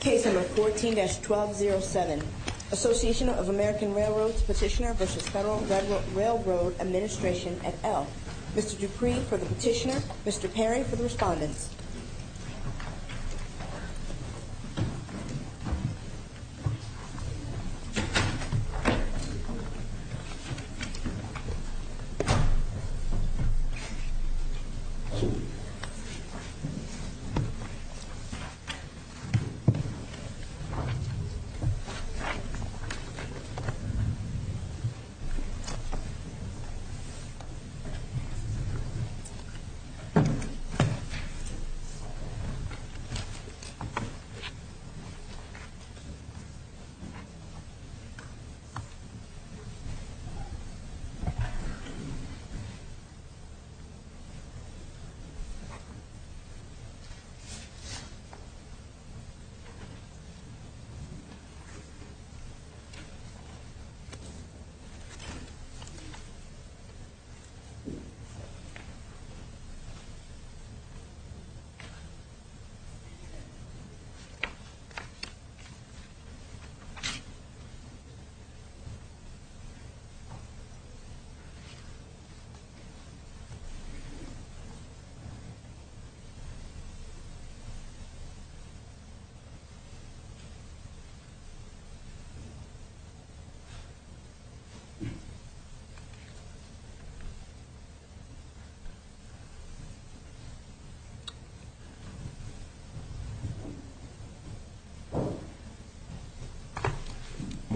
Case number 14-1207, Association of American Railroads Petitioner v. Federal Railroad Administration, et al. Mr. Dupree for the petitioner, Mr. Perry for the respondents. Mr. Dupree for the petitioner, Mr. Perry for the respondents. Mr. Perry for the petitioner, Mr. Perry for the respondents. Mr. Perry for the petitioner, Mr. Perry for the respondents. Mr. Dupree for the petitioner, Mr. Perry for the respondents. Good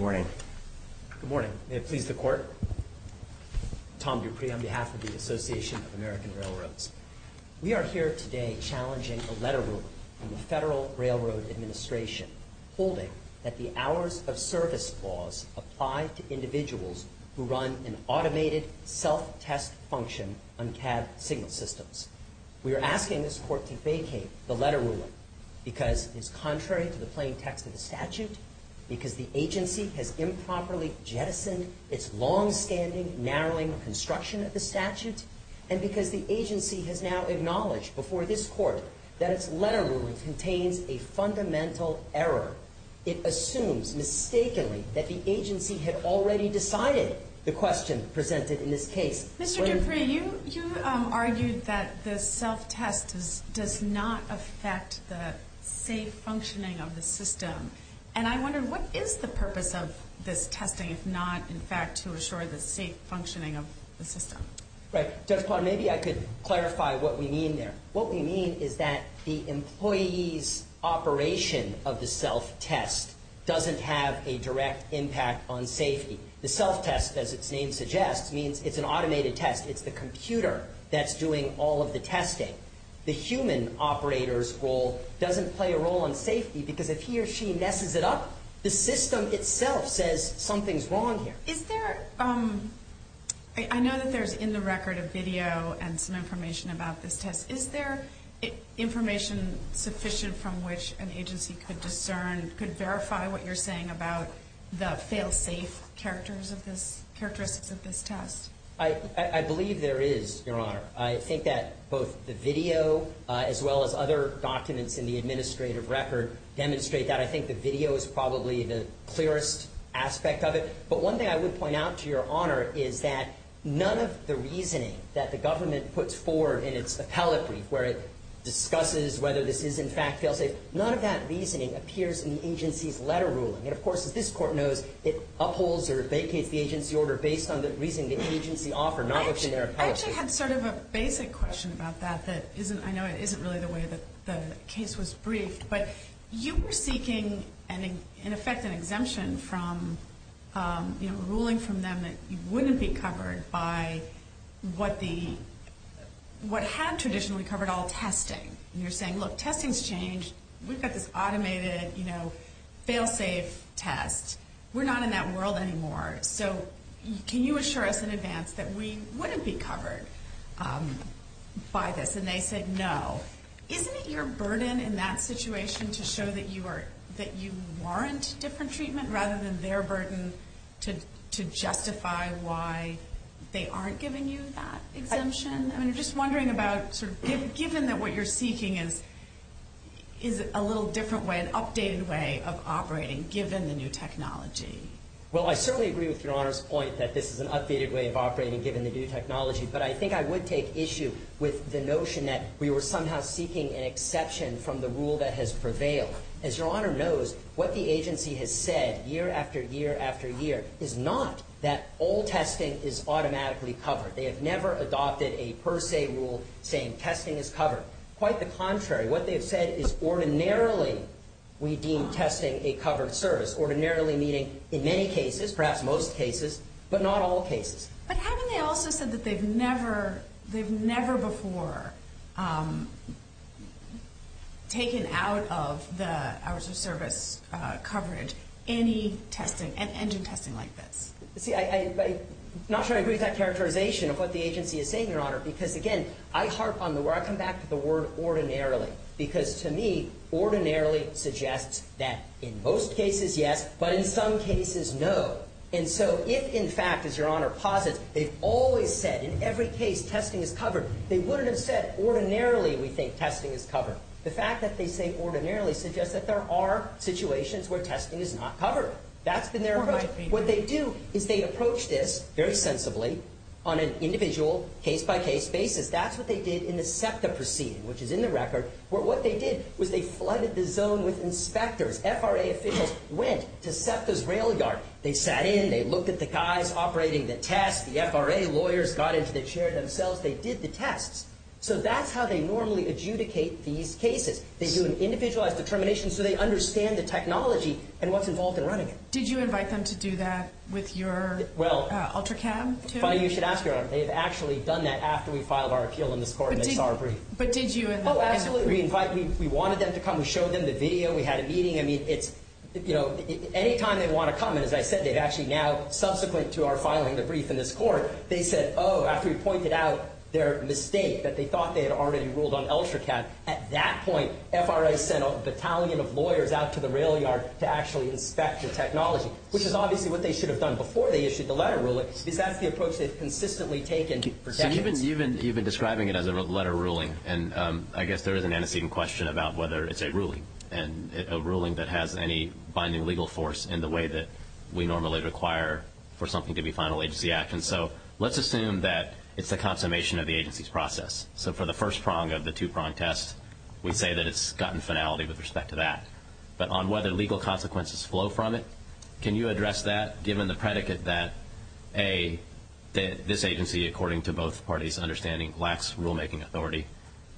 morning. Good morning. May it please the Court. Tom Dupree on behalf of the Association of American Railroads. We are here today challenging a letter ruling from the Federal Railroad Administration, holding that the hours of service clause apply to individuals who run an automated self-test function on cab signal systems. We are asking this Court to vacate the letter ruling because it is contrary to the plain text of the statute, because the agency has improperly jettisoned its longstanding, narrowing construction of the statute, and because the agency has now acknowledged before this Court that its letter ruling contains a fundamental error. It assumes mistakenly that the agency had already decided the question presented in this case. Mr. Dupree, you argued that the self-test does not affect the safe functioning of the system, and I wonder what is the purpose of this testing if not, in fact, to assure the safe functioning of the system? Judge Potter, maybe I could clarify what we mean there. What we mean is that the employee's operation of the self-test doesn't have a direct impact on safety. The self-test, as its name suggests, means it's an automated test. It's the computer that's doing all of the testing. The human operator's role doesn't play a role on safety because if he or she messes it up, the system itself says something's wrong here. I know that there's in the record a video and some information about this test. Is there information sufficient from which an agency could discern, could verify what you're saying about the fail-safe characteristics of this test? I believe there is, Your Honor. I think that both the video as well as other documents in the administrative record demonstrate that. I think the video is probably the clearest aspect of it. But one thing I would point out to Your Honor is that none of the reasoning that the government puts forward in its appellate brief where it discusses whether this is, in fact, fail-safe, none of that reasoning appears in the agency's letter ruling. And, of course, as this Court knows, it upholds or vacates the agency order based on the reasoning the agency offered, not what's in their appellate brief. I actually had sort of a basic question about that that isn't, I know it isn't really the way that the case was briefed. But you were seeking, in effect, an exemption from ruling from them that you wouldn't be covered by what had traditionally covered all testing. And you're saying, look, testing's changed. We've got this automated fail-safe test. We're not in that world anymore. So can you assure us in advance that we wouldn't be covered by this? And they said no. Isn't it your burden in that situation to show that you warrant different treatment rather than their burden to justify why they aren't giving you that exemption? I mean, I'm just wondering about sort of given that what you're seeking is a little different way, an updated way of operating given the new technology. Well, I certainly agree with Your Honor's point that this is an updated way of operating given the new technology. But I think I would take issue with the notion that we were somehow seeking an exception from the rule that has prevailed. As Your Honor knows, what the agency has said year after year after year is not that all testing is automatically covered. They have never adopted a per se rule saying testing is covered. Quite the contrary. What they have said is ordinarily we deem testing a covered service, ordinarily meaning in many cases, perhaps most cases, but not all cases. But haven't they also said that they've never before taken out of the hours of service coverage any testing and engine testing like this? See, I'm not sure I agree with that characterization of what the agency is saying, Your Honor, because again, I come back to the word ordinarily. Because to me, ordinarily suggests that in most cases, yes, but in some cases, no. And so if in fact, as Your Honor posits, they've always said in every case testing is covered, they wouldn't have said ordinarily we think testing is covered. The fact that they say ordinarily suggests that there are situations where testing is not covered. That's been their approach. What they do is they approach this very sensibly on an individual case-by-case basis. That's what they did in the SEPTA proceeding, which is in the record, where what they did was they flooded the zone with inspectors. FRA officials went to SEPTA's rail yard. They sat in. They looked at the guys operating the test. The FRA lawyers got into the chair themselves. They did the tests. So that's how they normally adjudicate these cases. They do an individualized determination so they understand the technology and what's involved in running it. Did you invite them to do that with your UltraCab, too? You should ask Your Honor. They've actually done that after we filed our appeal in this court, and they saw our brief. But did you invite them? Oh, absolutely. We invited them. We wanted them to come. We showed them the video. We had a meeting. I mean, it's, you know, any time they want to come, and as I said, they've actually now, subsequent to our filing the brief in this court, they said, oh, after we pointed out their mistake that they thought they had already ruled on UltraCab, at that point FRA sent a battalion of lawyers out to the rail yard to actually inspect the technology, which is obviously what they should have done before they issued the letter ruling, because that's the approach they've consistently taken for decades. You've been describing it as a letter ruling, and I guess there is an antecedent question about whether it's a ruling, and a ruling that has any binding legal force in the way that we normally require for something to be final agency action. So let's assume that it's the consummation of the agency's process. So for the first prong of the two-prong test, we say that it's gotten finality with respect to that. But on whether legal consequences flow from it, can you address that, given the predicate that A, this agency, according to both parties' understanding, lacks rulemaking authority,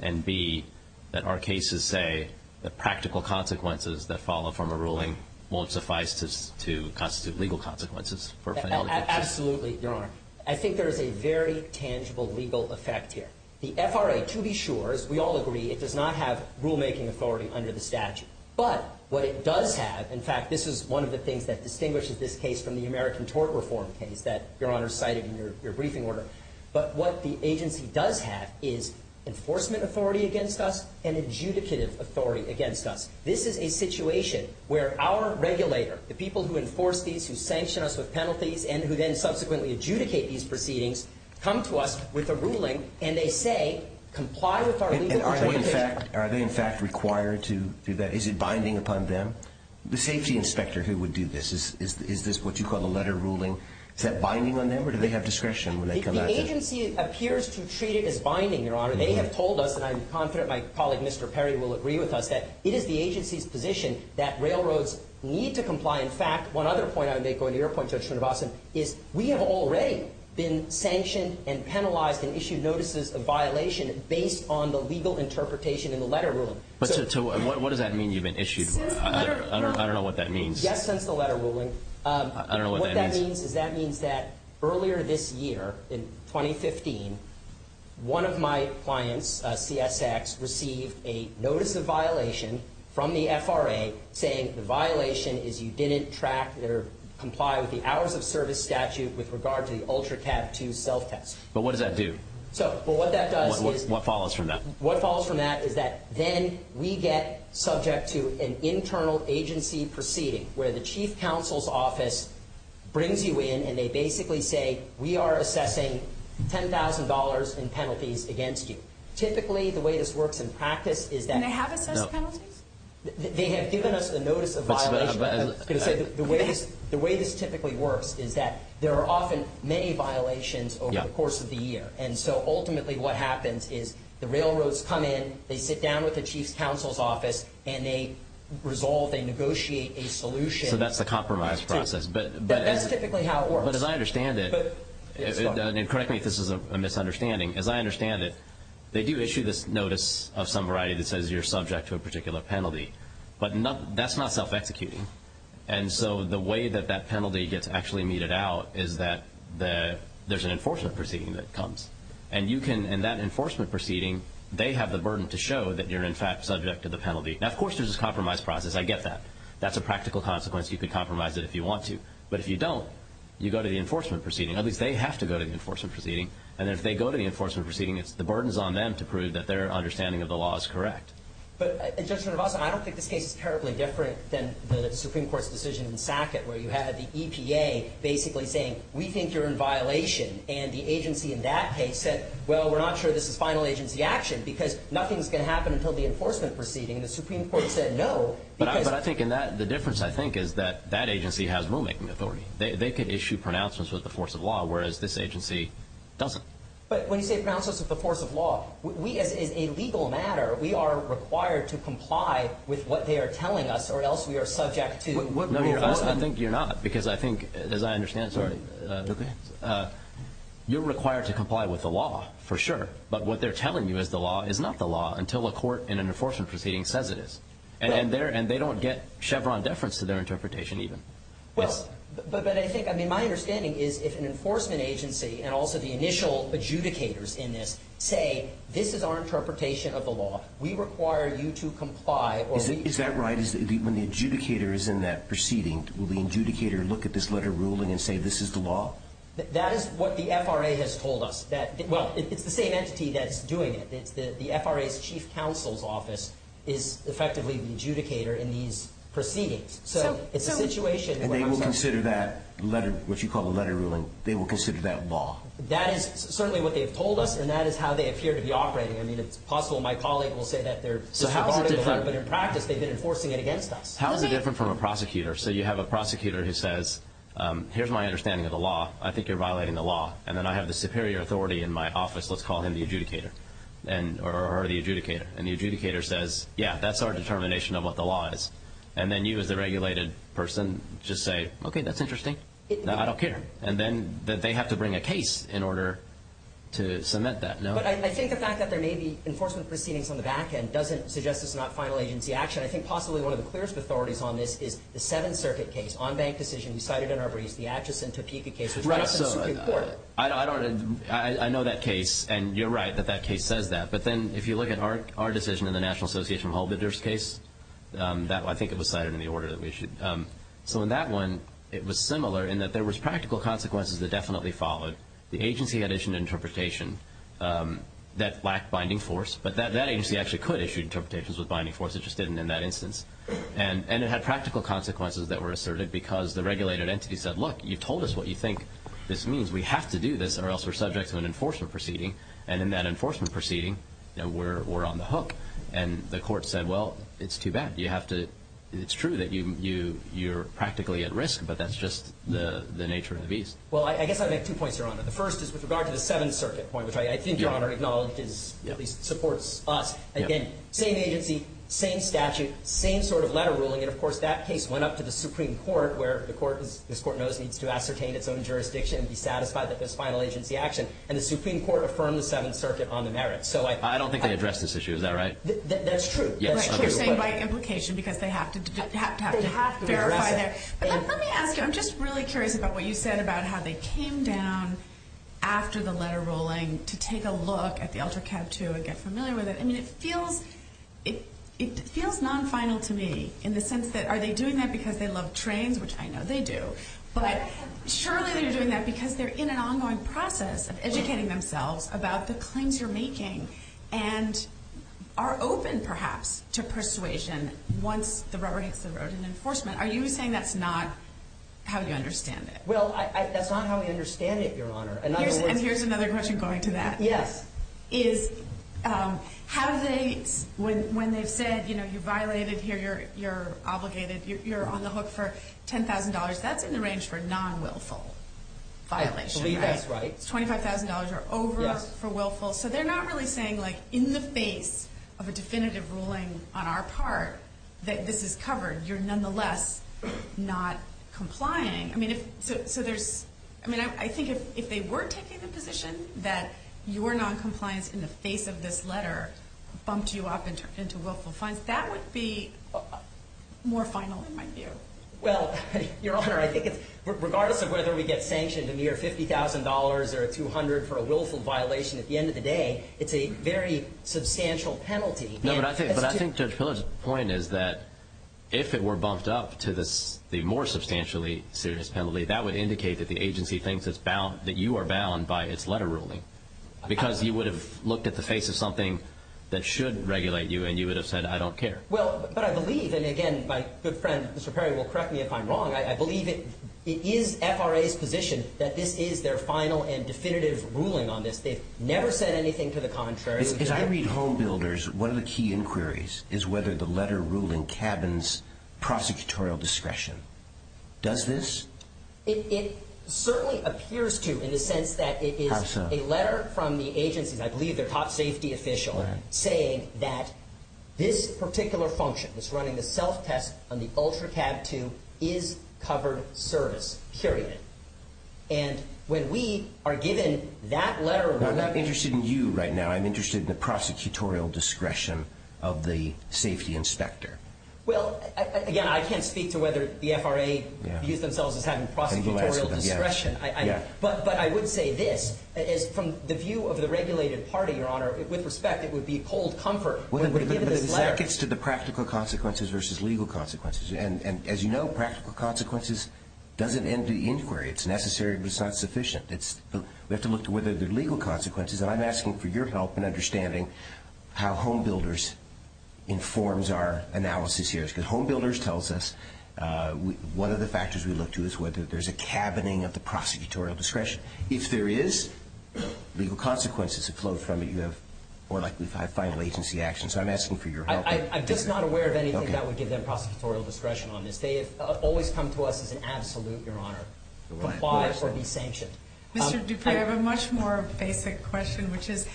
and B, that our cases say that practical consequences that follow from a ruling won't suffice to constitute legal consequences for finality? Absolutely, Your Honor. I think there is a very tangible legal effect here. The FRA, to be sure, as we all agree, it does not have rulemaking authority under the statute. But what it does have, in fact, this is one of the things that distinguishes this case from the American tort reform case that Your Honor cited in your briefing order. But what the agency does have is enforcement authority against us and adjudicative authority against us. This is a situation where our regulator, the people who enforce these, who sanction us with penalties, and who then subsequently adjudicate these proceedings, come to us with a ruling, and they say, comply with our legal interpretation. Are they, in fact, required to do that? Is it binding upon them? The safety inspector who would do this, is this what you call the letter ruling? Is that binding on them, or do they have discretion when they come at this? The agency appears to treat it as binding, Your Honor. They have told us, and I'm confident my colleague, Mr. Perry, will agree with us, that it is the agency's position that railroads need to comply. In fact, one other point I would make, going to your point, Judge Srinivasan, is we have already been sanctioned and penalized and issued notices of violation based on the legal interpretation in the letter ruling. What does that mean, you've been issued? I don't know what that means. Yes, since the letter ruling. I don't know what that means. What that means is that means that earlier this year, in 2015, one of my clients, CSX, received a notice of violation from the FRA, saying the violation is you didn't track or comply with the hours of service statute with regard to the UltraCab 2 self-test. But what does that do? What that does is... What follows from that? What follows from that is that then we get subject to an internal agency proceeding, where the chief counsel's office brings you in, and they basically say, we are assessing $10,000 in penalties against you. Typically, the way this works in practice is that... Do they have assessed penalties? They have given us a notice of violation. The way this typically works is that there are often many violations over the course of the year, and so ultimately what happens is the railroads come in, they sit down with the chief counsel's office, and they resolve, they negotiate a solution. So that's the compromise process. That's typically how it works. But as I understand it, and correct me if this is a misunderstanding, as I understand it, they do issue this notice of some variety that says you're subject to a particular penalty. But that's not self-executing. And so the way that that penalty gets actually meted out is that there's an enforcement proceeding that comes. And that enforcement proceeding, they have the burden to show that you're, in fact, subject to the penalty. Now, of course, there's this compromise process. I get that. That's a practical consequence. You can compromise it if you want to. But if you don't, you go to the enforcement proceeding. At least they have to go to the enforcement proceeding. And if they go to the enforcement proceeding, it's the burden's on them to prove that their understanding of the law is correct. But, Judge Narvasan, I don't think this case is terribly different than the Supreme Court's decision in Sackett where you had the EPA basically saying, we think you're in violation. And the agency in that case said, well, we're not sure this is final agency action because nothing's going to happen until the enforcement proceeding. And the Supreme Court said no. But I think in that, the difference, I think, is that that agency has rulemaking authority. They could issue pronouncements with the force of law, whereas this agency doesn't. But when you say pronouncements with the force of law, we, as a legal matter, we are required to comply with what they are telling us or else we are subject to enforcement. No, I think you're not because I think, as I understand it, you're required to comply with the law for sure. But what they're telling you is the law is not the law until a court in an enforcement proceeding says it is. And they don't get Chevron deference to their interpretation even. Well, but I think, I mean, my understanding is if an enforcement agency and also the initial adjudicators in this say, this is our interpretation of the law, we require you to comply or we- Is that right? When the adjudicator is in that proceeding, will the adjudicator look at this letter ruling and say, this is the law? That is what the FRA has told us. Well, it's the same entity that's doing it. The FRA's chief counsel's office is effectively the adjudicator in these proceedings. So it's a situation where- And they will consider that letter, what you call the letter ruling, they will consider that law. That is certainly what they've told us, and that is how they appear to be operating. I mean, it's possible my colleague will say that they're disregarding the law, but in practice they've been enforcing it against us. How is it different from a prosecutor? So you have a prosecutor who says, here's my understanding of the law. I think you're violating the law. And then I have the superior authority in my office. Let's call him the adjudicator or the adjudicator. And the adjudicator says, yeah, that's our determination of what the law is. And then you as the regulated person just say, okay, that's interesting. I don't care. And then they have to bring a case in order to cement that, no? But I think the fact that there may be enforcement proceedings on the back end doesn't suggest it's not final agency action. I think possibly one of the clearest authorities on this is the Seventh Circuit case, on-bank decision, you cited in our briefs, the Atchison-Topeka case, which- Right, so I don't- I know that case, and you're right that that case says that. But then if you look at our decision in the National Association of Hold Bidders case, I think it was cited in the order that we issued. So in that one, it was similar in that there was practical consequences that definitely followed. The agency had issued an interpretation that lacked binding force, but that agency actually could issue interpretations with binding force. It just didn't in that instance. And it had practical consequences that were asserted because the regulated entity said, look, you've told us what you think this means. We have to do this or else we're subject to an enforcement proceeding. And in that enforcement proceeding, we're on the hook. And the court said, well, it's too bad. You have to-it's true that you're practically at risk, but that's just the nature of the beast. Well, I guess I'd make two points, Your Honor. The first is with regard to the Seventh Circuit point, which I think Your Honor acknowledges, at least supports us. Again, same agency, same statute, same sort of letter ruling. And, of course, that case went up to the Supreme Court, where the Court, as this Court knows, needs to ascertain its own jurisdiction and be satisfied that there's final agency action. And the Supreme Court affirmed the Seventh Circuit on the merits. I don't think they addressed this issue. Is that right? That's true. You're saying by implication because they have to verify their- They have to address it. Let me ask you. I'm just really curious about what you said about how they came down after the letter ruling to take a look at the Ultra Cab 2 and get familiar with it. I mean, it feels non-final to me in the sense that are they doing that because they love trains, which I know they do. But surely they're doing that because they're in an ongoing process of educating themselves about the claims you're making and are open, perhaps, to persuasion once the rubber hits the road in enforcement. Are you saying that's not how you understand it? Well, that's not how we understand it, Your Honor. And here's another question going to that. Yes. Is have they, when they've said, you know, you violated here, you're obligated, you're on the hook for $10,000. That's in the range for non-willful violation, right? I believe that's right. $25,000 or over for willful. So they're not really saying, like, in the face of a definitive ruling on our part that this is covered, you're nonetheless not complying. I mean, so there's-I mean, I think if they were taking the position that your noncompliance in the face of this letter bumped you up into willful fines, that would be more final in my view. Well, Your Honor, I think regardless of whether we get sanctioned a mere $50,000 or $200,000 for a willful violation at the end of the day, it's a very substantial penalty. No, but I think Judge Pillard's point is that if it were bumped up to the more substantially serious penalty, that would indicate that the agency thinks that you are bound by its letter ruling because you would have looked at the face of something that should regulate you and you would have said, I don't care. Well, but I believe, and again, my good friend Mr. Perry will correct me if I'm wrong, I believe it is FRA's position that this is their final and definitive ruling on this. They've never said anything to the contrary. As I read home builders, one of the key inquiries is whether the letter ruling cabins prosecutorial discretion. Does this? It certainly appears to in the sense that it is a letter from the agency. I believe they're a top safety official saying that this particular function, which is running the self-test on the Ultra Cab 2, is covered service, period. And when we are given that letter ruling. I'm not interested in you right now. I'm interested in the prosecutorial discretion of the safety inspector. Well, again, I can't speak to whether the FRA views themselves as having prosecutorial discretion. But I would say this, from the view of the regulated party, Your Honor, with respect, it would be cold comfort when we're given this letter. But that gets to the practical consequences versus legal consequences. And as you know, practical consequences doesn't end the inquiry. It's necessary, but it's not sufficient. We have to look to whether there are legal consequences. And I'm asking for your help in understanding how home builders informs our analysis here. Because home builders tells us one of the factors we look to is whether there's a cabining of the prosecutorial discretion. If there is, legal consequences have flowed from it. You have more likely to have final agency action. So I'm asking for your help. I'm just not aware of anything that would give them prosecutorial discretion on this. They have always come to us as an absolute, Your Honor, comply or be sanctioned. Mr. Dupree, I have a much more basic question, which is,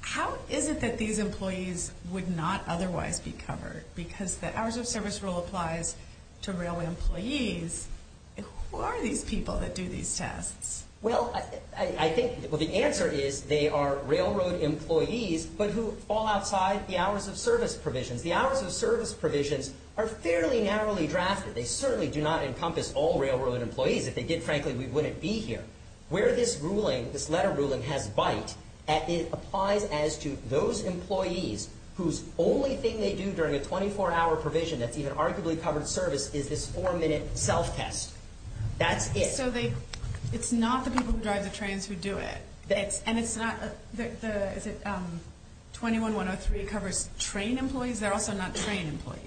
how is it that these employees would not otherwise be covered? Because the hours of service rule applies to railroad employees. Who are these people that do these tests? Well, I think the answer is they are railroad employees, but who fall outside the hours of service provisions. The hours of service provisions are fairly narrowly drafted. They certainly do not encompass all railroad employees. If they did, frankly, we wouldn't be here. Where this ruling, this letter ruling, has bite, it applies as to those employees whose only thing they do during a 24-hour provision that's even arguably covered service is this four-minute self-test. That's it. So it's not the people who drive the trains who do it. And it's not the 21-103 covers train employees? They're also not train employees.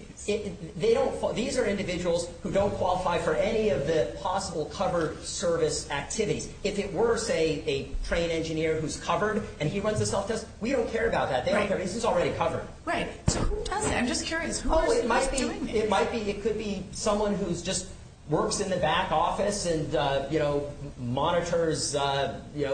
These are individuals who don't qualify for any of the possible covered service activities. If it were, say, a train engineer who's covered and he runs a self-test, we don't care about that. They don't care because he's already covered. Right. So who does that? I'm just curious. Who is doing this? It could be someone who just works in the back office and monitors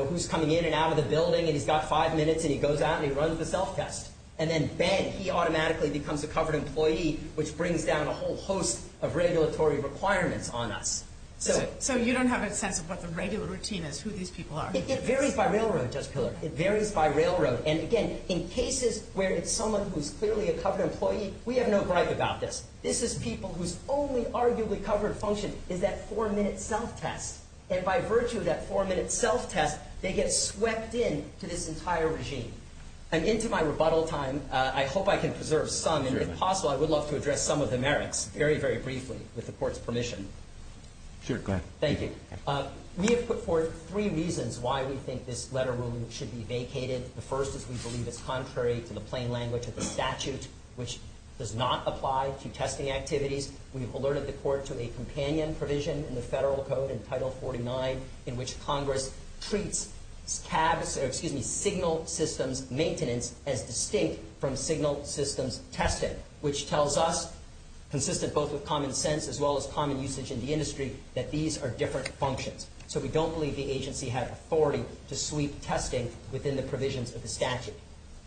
who's coming in and out of the building, and he's got five minutes and he goes out and he runs the self-test. And then, bang, he automatically becomes a covered employee, which brings down a whole host of regulatory requirements on us. So you don't have a sense of what the regular routine is, who these people are? It varies by railroad, Judge Pillard. It varies by railroad. And, again, in cases where it's someone who's clearly a covered employee, we have no gripe about this. This is people whose only arguably covered function is that four-minute self-test. And by virtue of that four-minute self-test, they get swept into this entire regime. I'm into my rebuttal time. I hope I can preserve some, and if possible, I would love to address some of the merits very, very briefly with the Court's permission. Sure. Go ahead. Thank you. We have put forth three reasons why we think this letter ruling should be vacated. The first is we believe it's contrary to the plain language of the statute, which does not apply to testing activities. We've alerted the Court to a companion provision in the Federal Code in Title 49, in which Congress treats signal systems maintenance as distinct from signal systems testing, which tells us, consistent both with common sense as well as common usage in the industry, that these are different functions. So we don't believe the agency had authority to sweep testing within the provisions of the statute.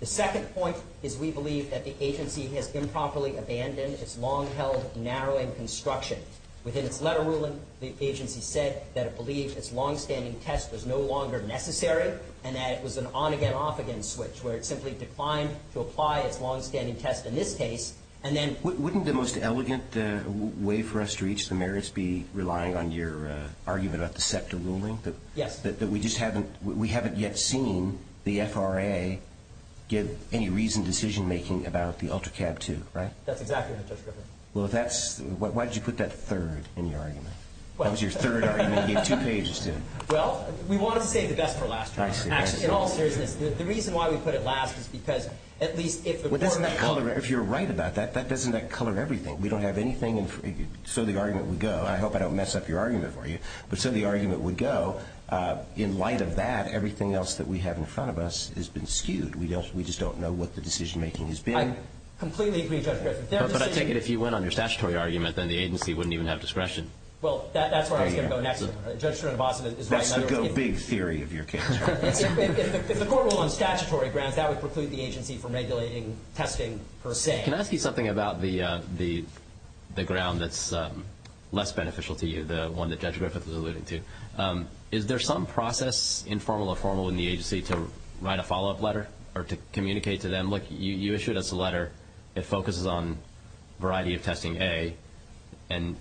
The second point is we believe that the agency has improperly abandoned its long-held narrowing construction. Within its letter ruling, the agency said that it believed its longstanding test was no longer necessary and that it was an on-again, off-again switch, where it simply declined to apply its longstanding test in this case. Wouldn't the most elegant way for us to reach the merits be relying on your argument about the SEPTA ruling? Yes. That we haven't yet seen the FRA give any reasoned decision-making about the ULTRACAB 2, right? That's exactly what the judge referred to. Why did you put that third in your argument? That was your third argument. You gave two pages to it. Well, we wanted to save the best for last, Your Honor. I see. In all seriousness, the reason why we put it last is because at least if the Court makes a decision that doesn't color everything. We don't have anything. So the argument would go. I hope I don't mess up your argument for you. But so the argument would go. In light of that, everything else that we have in front of us has been skewed. We just don't know what the decision-making has been. I completely agree, Judge Griffin. But I take it if you went on your statutory argument, then the agency wouldn't even have discretion. Well, that's where I was going to go next. Judge Srinivasan is right. That's the go-big theory of your case. If the Court were on statutory grounds, that would preclude the agency from regulating testing per se. Can I ask you something about the ground that's less beneficial to you, the one that Judge Griffith was alluding to? Is there some process, informal or formal, in the agency to write a follow-up letter or to communicate to them? Look, you issued us a letter. It focuses on variety of testing, A. And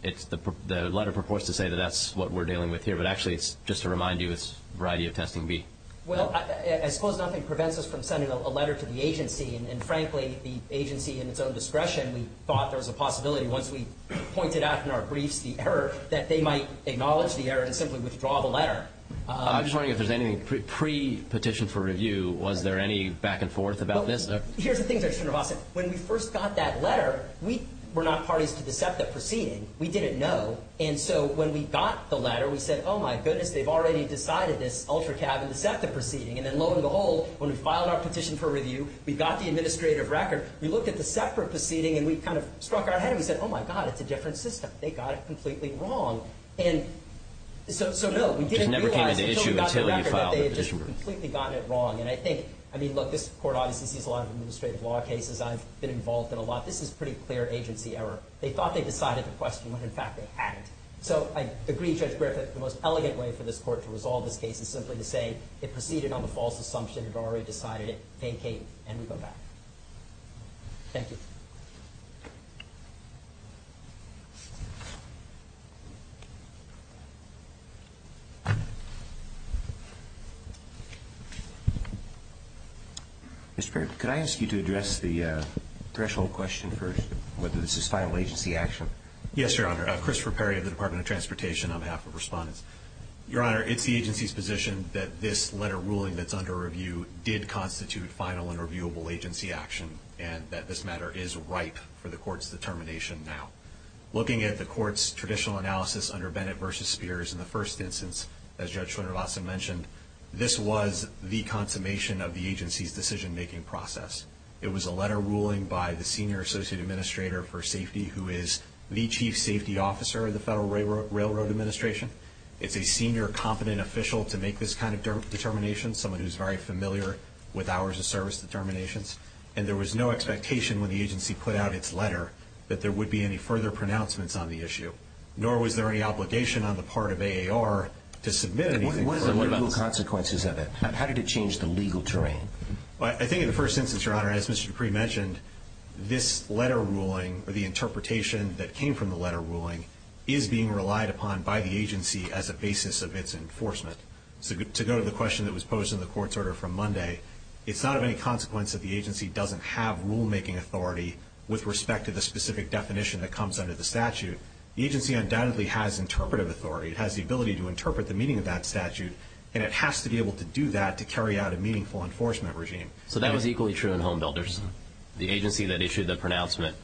the letter purports to say that that's what we're dealing with here. But actually, it's just to remind you it's variety of testing, B. Well, I suppose nothing prevents us from sending a letter to the agency. And, frankly, the agency in its own discretion, we thought there was a possibility once we pointed out in our briefs the error, that they might acknowledge the error and simply withdraw the letter. I'm just wondering if there's anything pre-petition for review, was there any back and forth about this? Here's the thing, Judge Srinivasan. When we first got that letter, we were not parties to the SEPTA proceeding. We didn't know. And so when we got the letter, we said, oh, my goodness, they've already decided this ultra-cab and the SEPTA proceeding. And then, lo and behold, when we filed our petition for review, we got the administrative record. We looked at the SEPTA proceeding and we kind of struck our head and we said, oh, my God, it's a different system. They got it completely wrong. And so, no, we didn't realize until we got the record that they had just completely gotten it wrong. And I think, I mean, look, this Court obviously sees a lot of administrative law cases. I've been involved in a lot. This is pretty clear agency error. They thought they decided the question when, in fact, they hadn't. So I agree, Judge Griffith, the most elegant way for this Court to resolve this case is simply to say it proceeded on the false assumption, they've already decided it, vacate, and we go back. Thank you. Mr. Perry, could I ask you to address the threshold question first, whether this is final agency action? Yes, Your Honor. Christopher Perry of the Department of Transportation. I'm half of respondents. Your Honor, it's the agency's position that this letter ruling that's under review did constitute final and reviewable agency action and that this matter is ripe for the Court's determination now. Looking at the Court's traditional analysis under Bennett v. Spears in the first instance, as Judge Schwinnervassen mentioned, this was the consummation of the agency's decision-making process. It was a letter ruling by the Senior Associate Administrator for Safety, who is the Chief Safety Officer of the Federal Railroad Administration. It's a senior competent official to make this kind of determination, someone who's very familiar with hours of service determinations, and there was no expectation when the agency put out its letter that there would be any further pronouncements on the issue, nor was there any obligation on the part of AAR to submit anything. What are the legal consequences of it? How did it change the legal terrain? Well, I think in the first instance, Your Honor, as Mr. Dupree mentioned, this letter ruling, or the interpretation that came from the letter ruling, is being relied upon by the agency as a basis of its enforcement. To go to the question that was posed in the Court's order from Monday, it's not of any consequence that the agency doesn't have rulemaking authority with respect to the specific definition that comes under the statute. The agency undoubtedly has interpretive authority. It has the ability to interpret the meaning of that statute, and it has to be able to do that to carry out a meaningful enforcement regime. So that was equally true in Home Builders. The agency that issued the pronouncement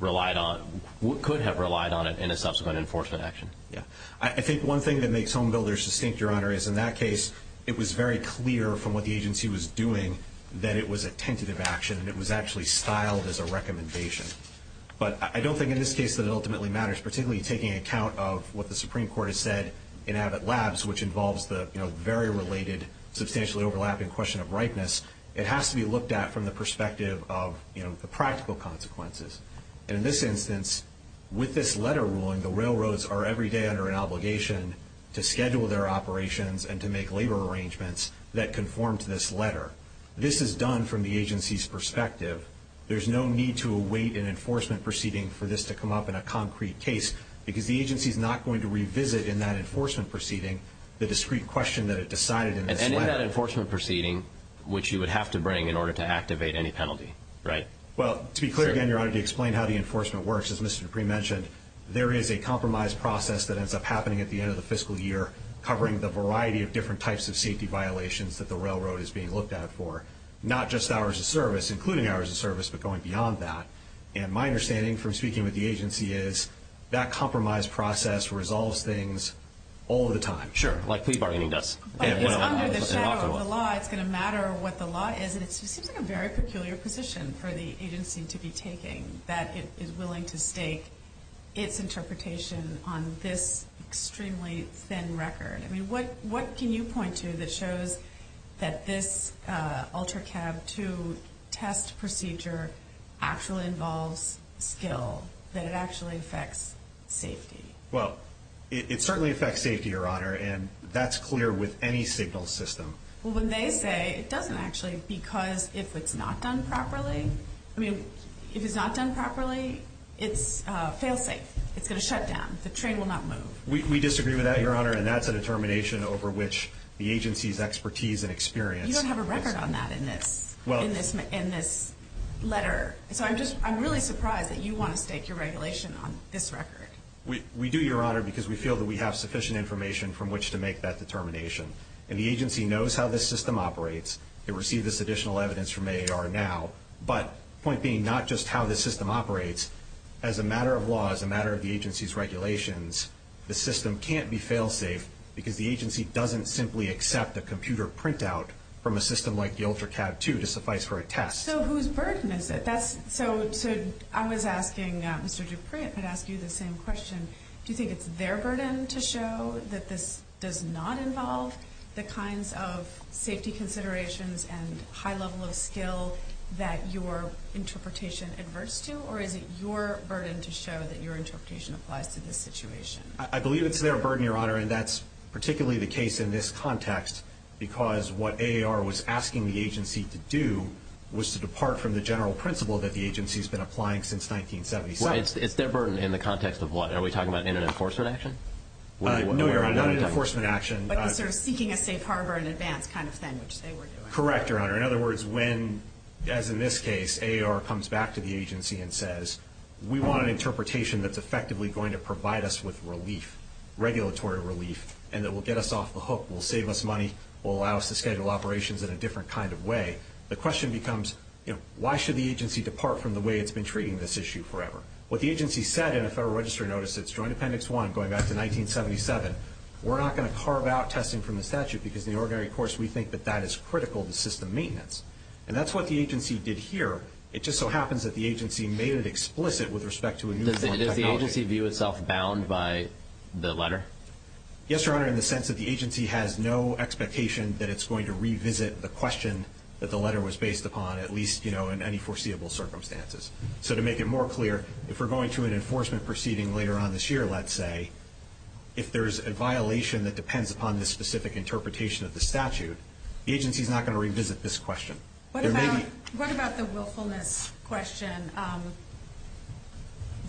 relied on, could have relied on it in a subsequent enforcement action. Yeah. I think one thing that makes Home Builders distinct, Your Honor, is in that case it was very clear from what the agency was doing that it was a tentative action, and it was actually styled as a recommendation. But I don't think in this case that it ultimately matters, particularly taking account of what the Supreme Court has said in Abbott Labs, which involves the very related, substantially overlapping question of ripeness, it has to be looked at from the perspective of the practical consequences. And in this instance, with this letter ruling, the railroads are every day under an obligation to schedule their operations and to make labor arrangements that conform to this letter. This is done from the agency's perspective. There's no need to await an enforcement proceeding for this to come up in a concrete case, because the agency is not going to revisit in that enforcement proceeding the discrete question that it decided in this letter. And in that enforcement proceeding, which you would have to bring in order to activate any penalty, right? Well, to be clear again, Your Honor, to explain how the enforcement works, as Mr. Dupree mentioned, there is a compromise process that ends up happening at the end of the fiscal year covering the variety of different types of safety violations that the railroad is being looked at for, not just hours of service, including hours of service, but going beyond that. And my understanding from speaking with the agency is that compromise process resolves things all the time. Sure, like plea bargaining does. But it's under the shadow of the law. It's going to matter what the law is. And it seems like a very peculiar position for the agency to be taking, that it is willing to stake its interpretation on this extremely thin record. I mean, what can you point to that shows that this UltraCab 2 test procedure actually involves skill, that it actually affects safety? Well, it certainly affects safety, Your Honor, and that's clear with any signal system. Well, when they say it doesn't actually, because if it's not done properly, I mean, if it's not done properly, it's fail-safe. It's going to shut down. The train will not move. We disagree with that, Your Honor, and that's a determination over which the agency's expertise and experience. You don't have a record on that in this letter. So I'm really surprised that you want to stake your regulation on this record. We do, Your Honor, because we feel that we have sufficient information from which to make that determination. And the agency knows how this system operates. It received this additional evidence from AAR now. But the point being, not just how this system operates, as a matter of law, as a matter of the agency's regulations, the system can't be fail-safe because the agency doesn't simply accept a computer printout from a system like the UltraCab 2 to suffice for a test. So whose burden is it? So I was asking Mr. Dupri, I'd ask you the same question. Do you think it's their burden to show that this does not involve the kinds of safety considerations and high level of skill that your interpretation adverts to, or is it your burden to show that your interpretation applies to this situation? I believe it's their burden, Your Honor, and that's particularly the case in this context, because what AAR was asking the agency to do was to depart from the general principle that the agency's been applying since 1977. Well, it's their burden in the context of what? Are we talking about an enforcement action? No, Your Honor, not an enforcement action. But the sort of seeking a safe harbor in advance kind of thing, which they were doing. Correct, Your Honor. In other words, when, as in this case, AAR comes back to the agency and says, we want an interpretation that's effectively going to provide us with relief, regulatory relief, and that will get us off the hook, will save us money, will allow us to schedule operations in a different kind of way, the question becomes, you know, why should the agency depart from the way it's been treating this issue forever? What the agency said in a Federal Registry notice that's Joint Appendix 1 going back to 1977, we're not going to carve out testing from the statute, because in the ordinary course we think that that is critical to system maintenance. And that's what the agency did here. It just so happens that the agency made it explicit with respect to a new form of technology. Does the agency view itself bound by the letter? Yes, Your Honor, in the sense that the agency has no expectation that it's going to revisit the question that the letter was based upon, at least, you know, in any foreseeable circumstances. So to make it more clear, if we're going to an enforcement proceeding later on this year, let's say, if there's a violation that depends upon this specific interpretation of the statute, the agency's not going to revisit this question. What about the willfulness question?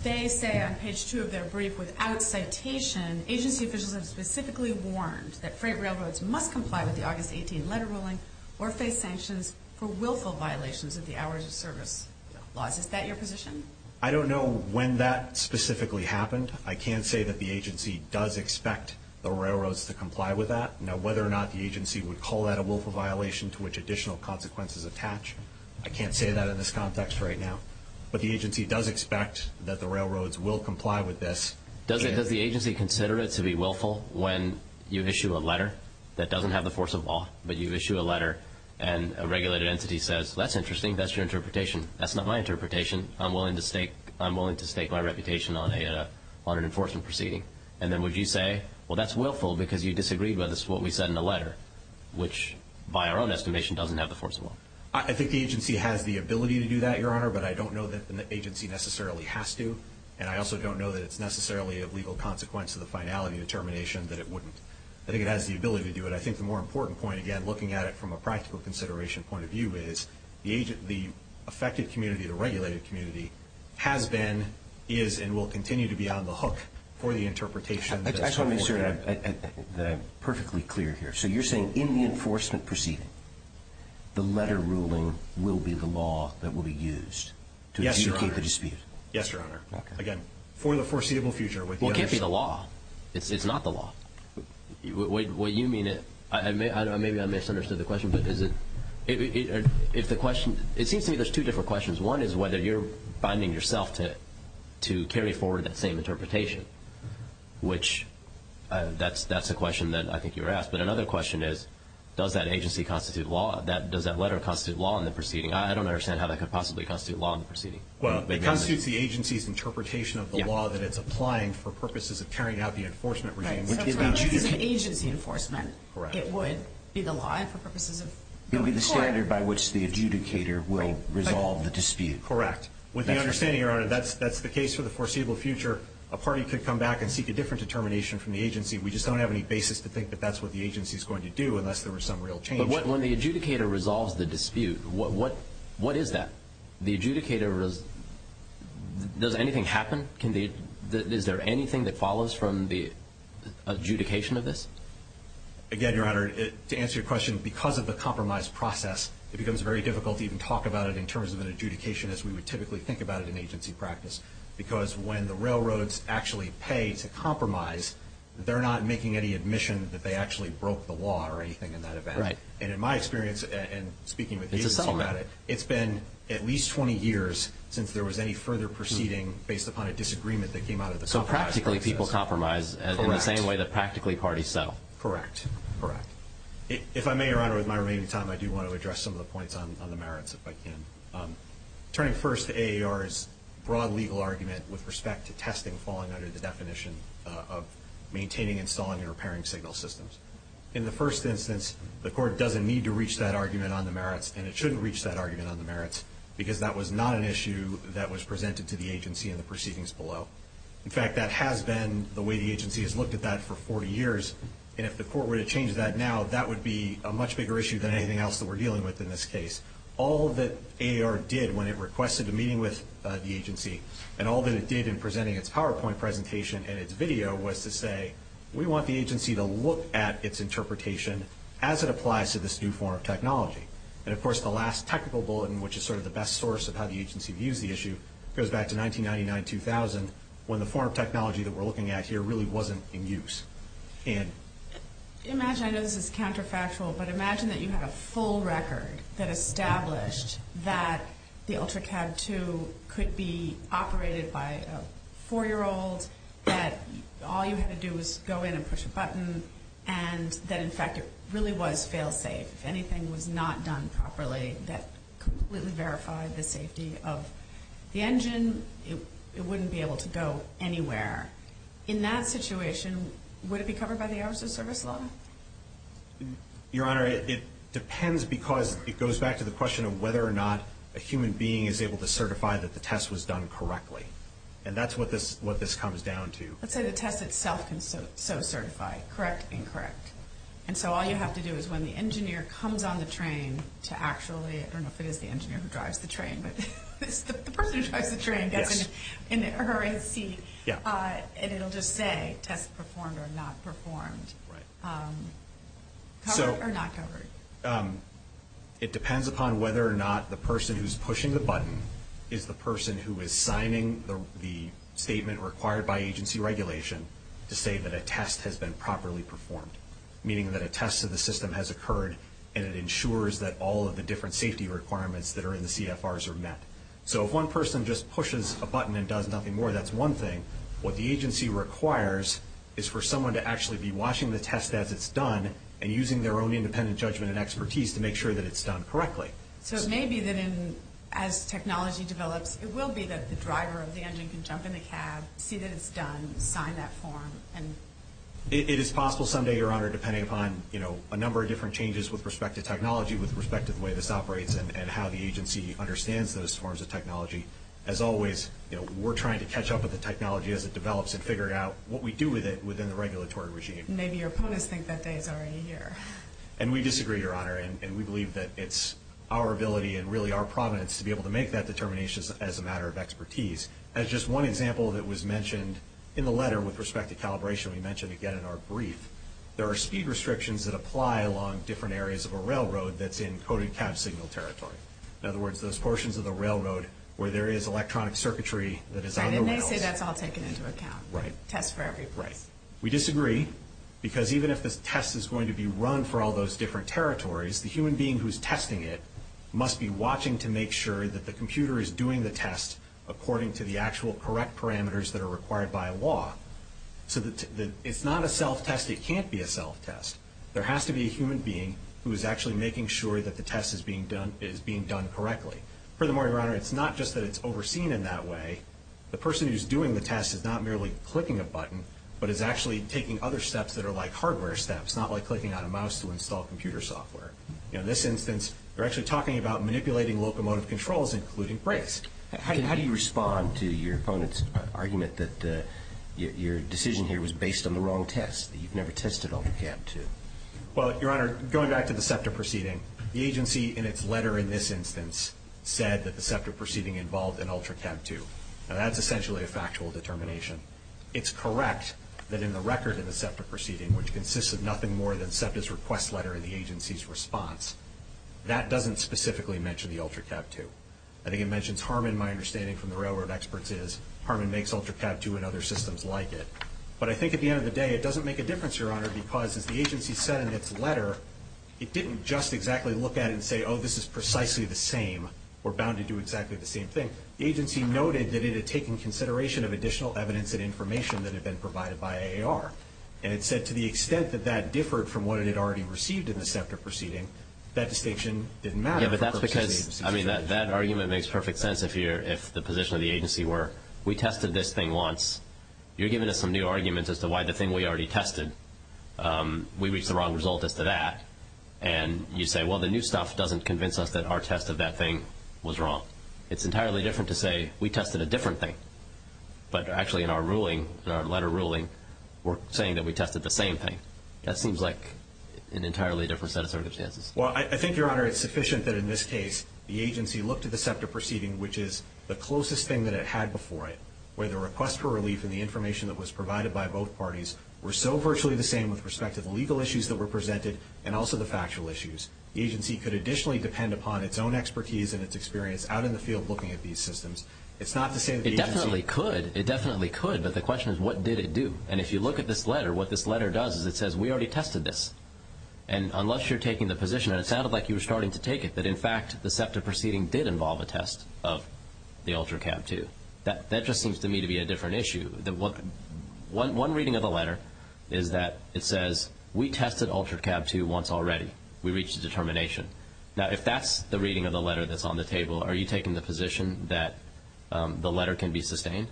They say on page 2 of their brief, without citation, agency officials have specifically warned that freight railroads must comply with the August 18 letter ruling or face sanctions for willful violations of the hours of service laws. Is that your position? I don't know when that specifically happened. I can say that the agency does expect the railroads to comply with that. Now, whether or not the agency would call that a willful violation to which additional consequences attach, I can't say that in this context right now. But the agency does expect that the railroads will comply with this. Does the agency consider it to be willful when you issue a letter that doesn't have the force of law, but you issue a letter and a regulated entity says, that's interesting, that's your interpretation. That's not my interpretation. I'm willing to stake my reputation on an enforcement proceeding. And then would you say, well, that's willful because you disagreed with us, what we said in the letter, which by our own estimation doesn't have the force of law. I think the agency has the ability to do that, Your Honor, but I don't know that the agency necessarily has to. And I also don't know that it's necessarily of legal consequence to the finality determination that it wouldn't. I think it has the ability to do it. I think the more important point, again, looking at it from a practical consideration point of view, is the affected community, the regulated community, has been, is, and will continue to be on the hook for the interpretation. I just want to make sure that I'm perfectly clear here. So you're saying in the enforcement proceeding, the letter ruling will be the law that will be used to adjudicate the dispute? Yes, Your Honor. Again, for the foreseeable future. Well, it can't be the law. It's not the law. What you mean, maybe I misunderstood the question, but is it, if the question, it seems to me there's two different questions. One is whether you're binding yourself to carry forward that same interpretation, which that's a question that I think you were asked. But another question is, does that agency constitute law? Does that letter constitute law in the proceeding? I don't understand how that could possibly constitute law in the proceeding. Well, it constitutes the agency's interpretation of the law that it's applying for purposes of carrying out the enforcement regime. So for purposes of agency enforcement, it would be the law and for purposes of the court? It would be the standard by which the adjudicator will resolve the dispute. Correct. With the understanding, Your Honor, that's the case for the foreseeable future. A party could come back and seek a different determination from the agency. We just don't have any basis to think that that's what the agency's going to do unless there was some real change. But when the adjudicator resolves the dispute, what is that? The adjudicator, does anything happen? Is there anything that follows from the adjudication of this? Again, Your Honor, to answer your question, because of the compromise process, it becomes very difficult to even talk about it in terms of an adjudication as we would typically think about it in agency practice because when the railroads actually pay to compromise, they're not making any admission that they actually broke the law or anything in that event. Right. And in my experience, and speaking with the agency about it, it's been at least 20 years since there was any further proceeding based upon a disagreement that came out of the compromise process. So practically people compromise in the same way that practically parties settle. Correct. Correct. If I may, Your Honor, with my remaining time, I do want to address some of the points on the merits if I can. Turning first to AAR's broad legal argument with respect to testing falling under the definition of maintaining, installing, and repairing signal systems. In the first instance, the court doesn't need to reach that argument on the merits, and it shouldn't reach that argument on the merits because that was not an issue that was presented to the agency in the proceedings below. In fact, that has been the way the agency has looked at that for 40 years, and if the court were to change that now, that would be a much bigger issue than anything else that we're dealing with in this case. All that AAR did when it requested a meeting with the agency, and all that it did in presenting its PowerPoint presentation and its video, was to say we want the agency to look at its interpretation as it applies to this new form of technology. And, of course, the last technical bulletin, which is sort of the best source of how the agency views the issue, goes back to 1999-2000, when the form of technology that we're looking at here really wasn't in use. Imagine, I know this is counterfactual, but imagine that you had a full record that established that the UltraCAD II could be operated by a 4-year-old, that all you had to do was go in and push a button, and that, in fact, it really was fail-safe. If anything was not done properly, that completely verified the safety of the engine. It wouldn't be able to go anywhere. In that situation, would it be covered by the hours of service law? Your Honor, it depends because it goes back to the question of whether or not a human being is able to certify that the test was done correctly. And that's what this comes down to. Let's say the test itself can so certify, correct, incorrect. And so all you have to do is when the engineer comes on the train to actually, I don't know if it is the engineer who drives the train, but it's the person who drives the train gets in her seat, and it'll just say test performed or not performed. Right. Covered or not covered? It depends upon whether or not the person who's pushing the button is the person who is signing the statement required by agency regulation to say that a test has been properly performed, meaning that a test of the system has occurred and it ensures that all of the different safety requirements that are in the CFRs are met. So if one person just pushes a button and does nothing more, that's one thing. What the agency requires is for someone to actually be watching the test as it's done and using their own independent judgment and expertise to make sure that it's done correctly. So it may be that as technology develops, it will be that the driver of the engine can jump in the cab, see that it's done, and sign that form. It is possible someday, Your Honor, depending upon a number of different changes with respect to technology, with respect to the way this operates and how the agency understands those forms of technology. As always, we're trying to catch up with the technology as it develops and figure out what we do with it within the regulatory regime. Maybe your opponents think that day is already here. And we disagree, Your Honor, and we believe that it's our ability and really our prominence to be able to make that determination as a matter of expertise. As just one example that was mentioned in the letter with respect to calibration, we mentioned again in our brief, there are speed restrictions that apply along different areas of a railroad that's in coded cab signal territory. In other words, those portions of the railroad where there is electronic circuitry that is on the rails. And they say that's all taken into account. Right. Tests for every place. Right. We disagree because even if this test is going to be run for all those different territories, the human being who's testing it must be watching to make sure that the computer is doing the test according to the actual correct parameters that are required by law. So it's not a self-test. It can't be a self-test. There has to be a human being who is actually making sure that the test is being done correctly. Furthermore, Your Honor, it's not just that it's overseen in that way. The person who's doing the test is not merely clicking a button, but is actually taking other steps that are like hardware steps, not like clicking on a mouse to install computer software. In this instance, they're actually talking about manipulating locomotive controls, including brakes. How do you respond to your opponent's argument that your decision here was based on the wrong test, that you've never tested UltraCab 2? Well, Your Honor, going back to the SEPTA proceeding, the agency in its letter in this instance said that the SEPTA proceeding involved an UltraCab 2. Now, that's essentially a factual determination. It's correct that in the record in the SEPTA proceeding, which consists of nothing more than SEPTA's request letter and the agency's response, that doesn't specifically mention the UltraCab 2. I think it mentions Harman, my understanding from the railroad experts is. Harman makes UltraCab 2 and other systems like it. But I think at the end of the day, it doesn't make a difference, Your Honor, because as the agency said in its letter, it didn't just exactly look at it and say, oh, this is precisely the same, we're bound to do exactly the same thing. The agency noted that it had taken consideration of additional evidence and information that had been provided by AAR. And it said to the extent that that differed from what it had already received in the SEPTA proceeding, that distinction didn't matter for purposes of the agency's decision. I mean, that argument makes perfect sense if the position of the agency were we tested this thing once, you're giving us some new arguments as to why the thing we already tested, we reached the wrong result as to that, and you say, well, the new stuff doesn't convince us that our test of that thing was wrong. It's entirely different to say we tested a different thing, but actually in our ruling, in our letter ruling, we're saying that we tested the same thing. That seems like an entirely different set of circumstances. Well, I think, Your Honor, it's sufficient that in this case the agency looked at the SEPTA proceeding, which is the closest thing that it had before it, where the request for relief and the information that was provided by both parties were so virtually the same with respect to the legal issues that were presented and also the factual issues. The agency could additionally depend upon its own expertise and its experience out in the field looking at these systems. It's not to say that the agency... It definitely could. It definitely could, but the question is what did it do? And if you look at this letter, what this letter does is it says we already tested this. And unless you're taking the position, and it sounded like you were starting to take it, that in fact the SEPTA proceeding did involve a test of the UltraCab II, that just seems to me to be a different issue. One reading of the letter is that it says we tested UltraCab II once already. We reached a determination. Now, if that's the reading of the letter that's on the table, are you taking the position that the letter can be sustained?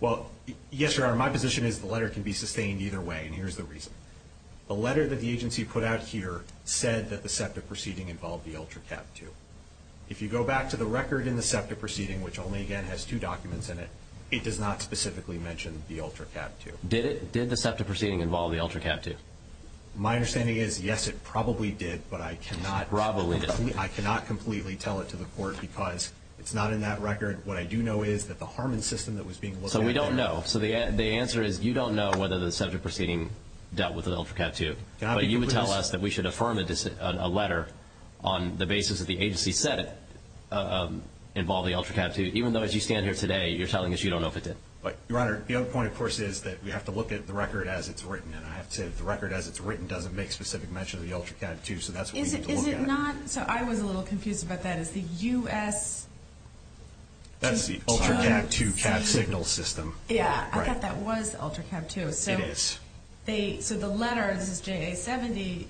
Well, yes, Your Honor. My position is the letter can be sustained either way, and here's the reason. The letter that the agency put out here said that the SEPTA proceeding involved the UltraCab II. If you go back to the record in the SEPTA proceeding, which only, again, has two documents in it, it does not specifically mention the UltraCab II. Did the SEPTA proceeding involve the UltraCab II? My understanding is, yes, it probably did, but I cannot... Probably did. I cannot completely tell it to the court because it's not in that record. What I do know is that the Harmon system that was being looked at... But you would tell us that we should affirm a letter on the basis that the agency said it involved the UltraCab II, even though, as you stand here today, you're telling us you don't know if it did. Your Honor, the other point, of course, is that we have to look at the record as it's written, and I have to say that the record as it's written doesn't make specific mention of the UltraCab II, so that's what we need to look at. Is it not? So I was a little confused about that. Is the U.S. That's the UltraCab II cab signal system. Yeah, I thought that was the UltraCab II. It is. So the letter, this is JA 70,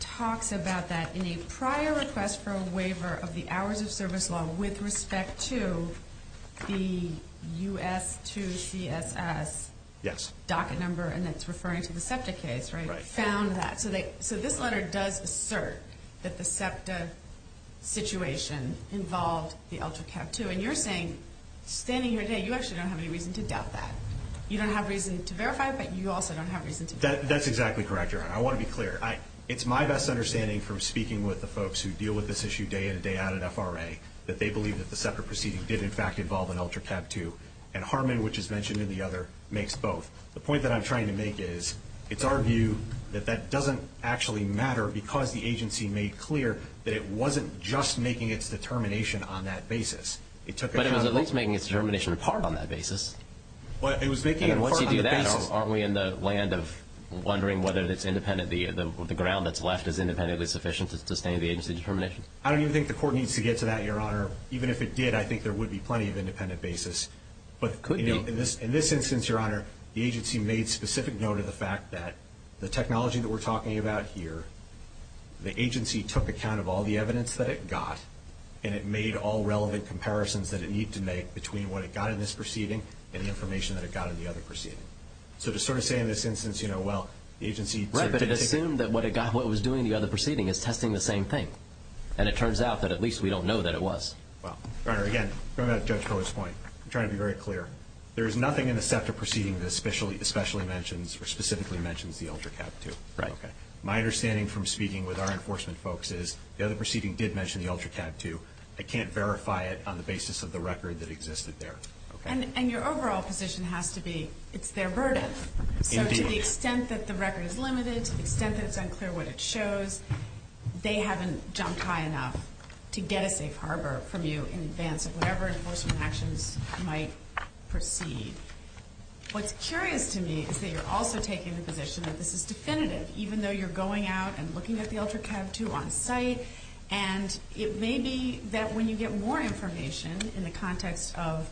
talks about that in a prior request for a waiver of the hours of service law with respect to the US2CSS docket number, and that's referring to the SEPTA case, right? Right. Found that. So this letter does assert that the SEPTA situation involved the UltraCab II, and you're saying, standing here today, you actually don't have any reason to doubt that. You don't have reason to verify it, but you also don't have reason to doubt that. That's exactly correct, Your Honor. I want to be clear. It's my best understanding from speaking with the folks who deal with this issue day in and day out at FRA that they believe that the SEPTA proceeding did, in fact, involve an UltraCab II, and Harmon, which is mentioned in the other, makes both. The point that I'm trying to make is it's our view that that doesn't actually matter because the agency made clear that it wasn't just making its determination on that basis. But it was at least making its determination a part on that basis. It was making it a part on the basis. And once you do that, aren't we in the land of wondering whether the ground that's left is independently sufficient to sustain the agency's determination? I don't even think the court needs to get to that, Your Honor. Even if it did, I think there would be plenty of independent basis. But in this instance, Your Honor, the agency made specific note of the fact that the technology that we're talking about here, the agency took account of all the evidence that it got and it made all relevant comparisons that it needed to make between what it got in this proceeding and the information that it got in the other proceeding. So to sort of say in this instance, you know, well, the agency sort of didn't take... Right, but it assumed that what it was doing in the other proceeding is testing the same thing. And it turns out that at least we don't know that it was. Well, Your Honor, again, going back to Judge Cohen's point, I'm trying to be very clear. There is nothing in the SEPTA proceeding that especially mentions or specifically mentions the UltraCab 2. Right. My understanding from speaking with our enforcement folks is the other proceeding did mention the UltraCab 2. I can't verify it on the basis of the record that existed there. And your overall position has to be it's their burden. Indeed. So to the extent that the record is limited, to the extent that it's unclear what it shows, they haven't jumped high enough to get a safe harbor from you in advance of whatever enforcement actions might proceed. What's curious to me is that you're also taking the position that this is definitive, even though you're going out and looking at the UltraCab 2 on site. And it may be that when you get more information in the context of,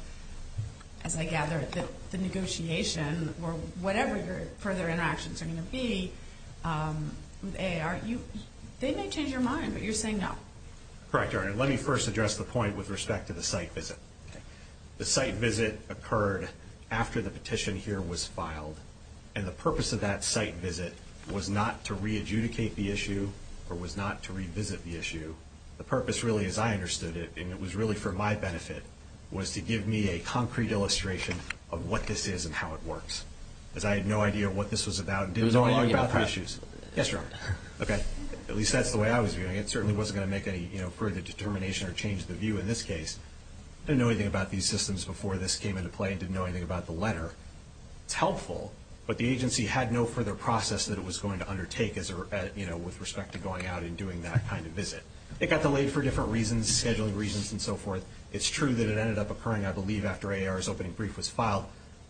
as I gather, the negotiation or whatever your further interactions are going to be with AAR, they may change your mind, but you're saying no. Correct, Your Honor. Let me first address the point with respect to the site visit. The site visit occurred after the petition here was filed, and the purpose of that site visit was not to re-adjudicate the issue or was not to revisit the issue. The purpose really, as I understood it, and it was really for my benefit, was to give me a concrete illustration of what this is and how it works, because I had no idea what this was about and didn't know anything about the issues. Yes, Your Honor. At least that's the way I was viewing it. I certainly wasn't going to make any further determination or change the view in this case. I didn't know anything about these systems before this came into play and didn't know anything about the letter. It's helpful, but the agency had no further process that it was going to undertake with respect to going out and doing that kind of visit. It got delayed for different reasons, scheduling reasons and so forth. It's true that it ended up occurring, I believe, after AAR's opening brief was filed,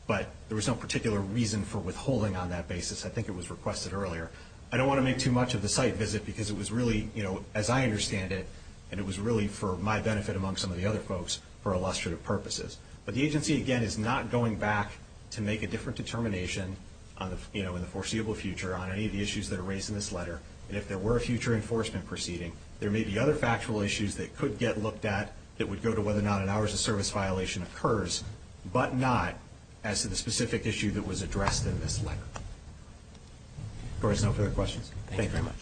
but there was no particular reason for withholding on that basis. I think it was requested earlier. I don't want to make too much of the site visit because it was really, as I understand it, and it was really for my benefit among some of the other folks, for illustrative purposes. But the agency, again, is not going back to make a different determination in the foreseeable future on any of the issues that are raised in this letter. And if there were a future enforcement proceeding, there may be other factual issues that could get looked at that would go to whether or not an hours of service violation occurs, but not as to the specific issue that was addressed in this letter. If there are no further questions, thank you very much.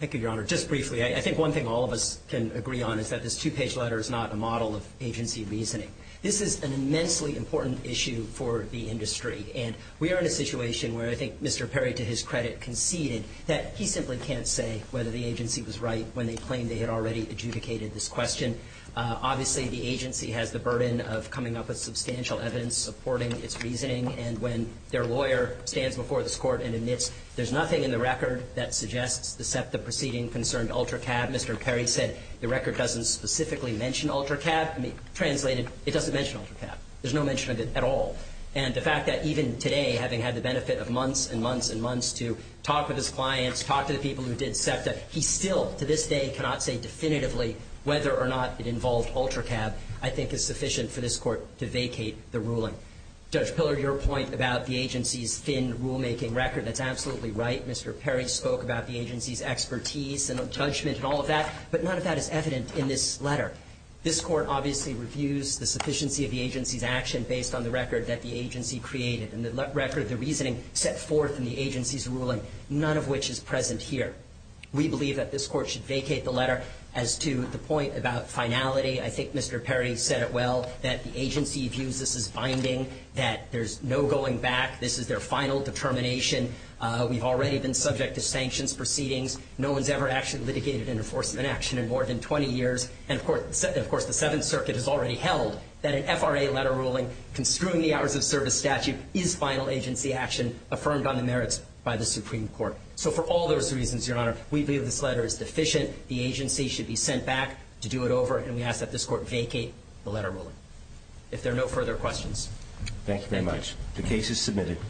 Thank you, Your Honor. Just briefly, I think one thing all of us can agree on is that this two-page letter is not a model of agency reasoning. This is an immensely important issue for the industry, and we are in a situation where I think Mr. Perry, to his credit, conceded that he simply can't say whether the agency was right when they claimed they had already adjudicated this question. Obviously, the agency has the burden of coming up with substantial evidence supporting its reasoning, and when their lawyer stands before this Court and admits there's nothing in the record that suggests the SEPTA proceeding concerned UltraCab, Mr. Perry said the record doesn't specifically mention UltraCab. Translated, it doesn't mention UltraCab. There's no mention of it at all. And the fact that even today, having had the benefit of months and months and months to talk with his clients, talk to the people who did SEPTA, he still to this day cannot say definitively whether or not it involved UltraCab I think is sufficient for this Court to vacate the ruling. Judge Pillar, your point about the agency's thin rulemaking record, that's absolutely right. Mr. Perry spoke about the agency's expertise and judgment and all of that, but none of that is evident in this letter. This Court obviously reviews the sufficiency of the agency's action based on the record that the agency created and the record of the reasoning set forth in the agency's ruling, none of which is present here. We believe that this Court should vacate the letter. As to the point about finality, I think Mr. Perry said it well, that the agency views this as binding, that there's no going back. This is their final determination. We've already been subject to sanctions proceedings. No one's ever actually litigated an enforcement action in more than 20 years. And, of course, the Seventh Circuit has already held that an FRA letter ruling construing the hours of service statute is final agency action affirmed on the merits by the Supreme Court. So for all those reasons, Your Honor, we believe this letter is deficient. The agency should be sent back to do it over, and we ask that this Court vacate the letter ruling. If there are no further questions. Thank you very much. The case is submitted.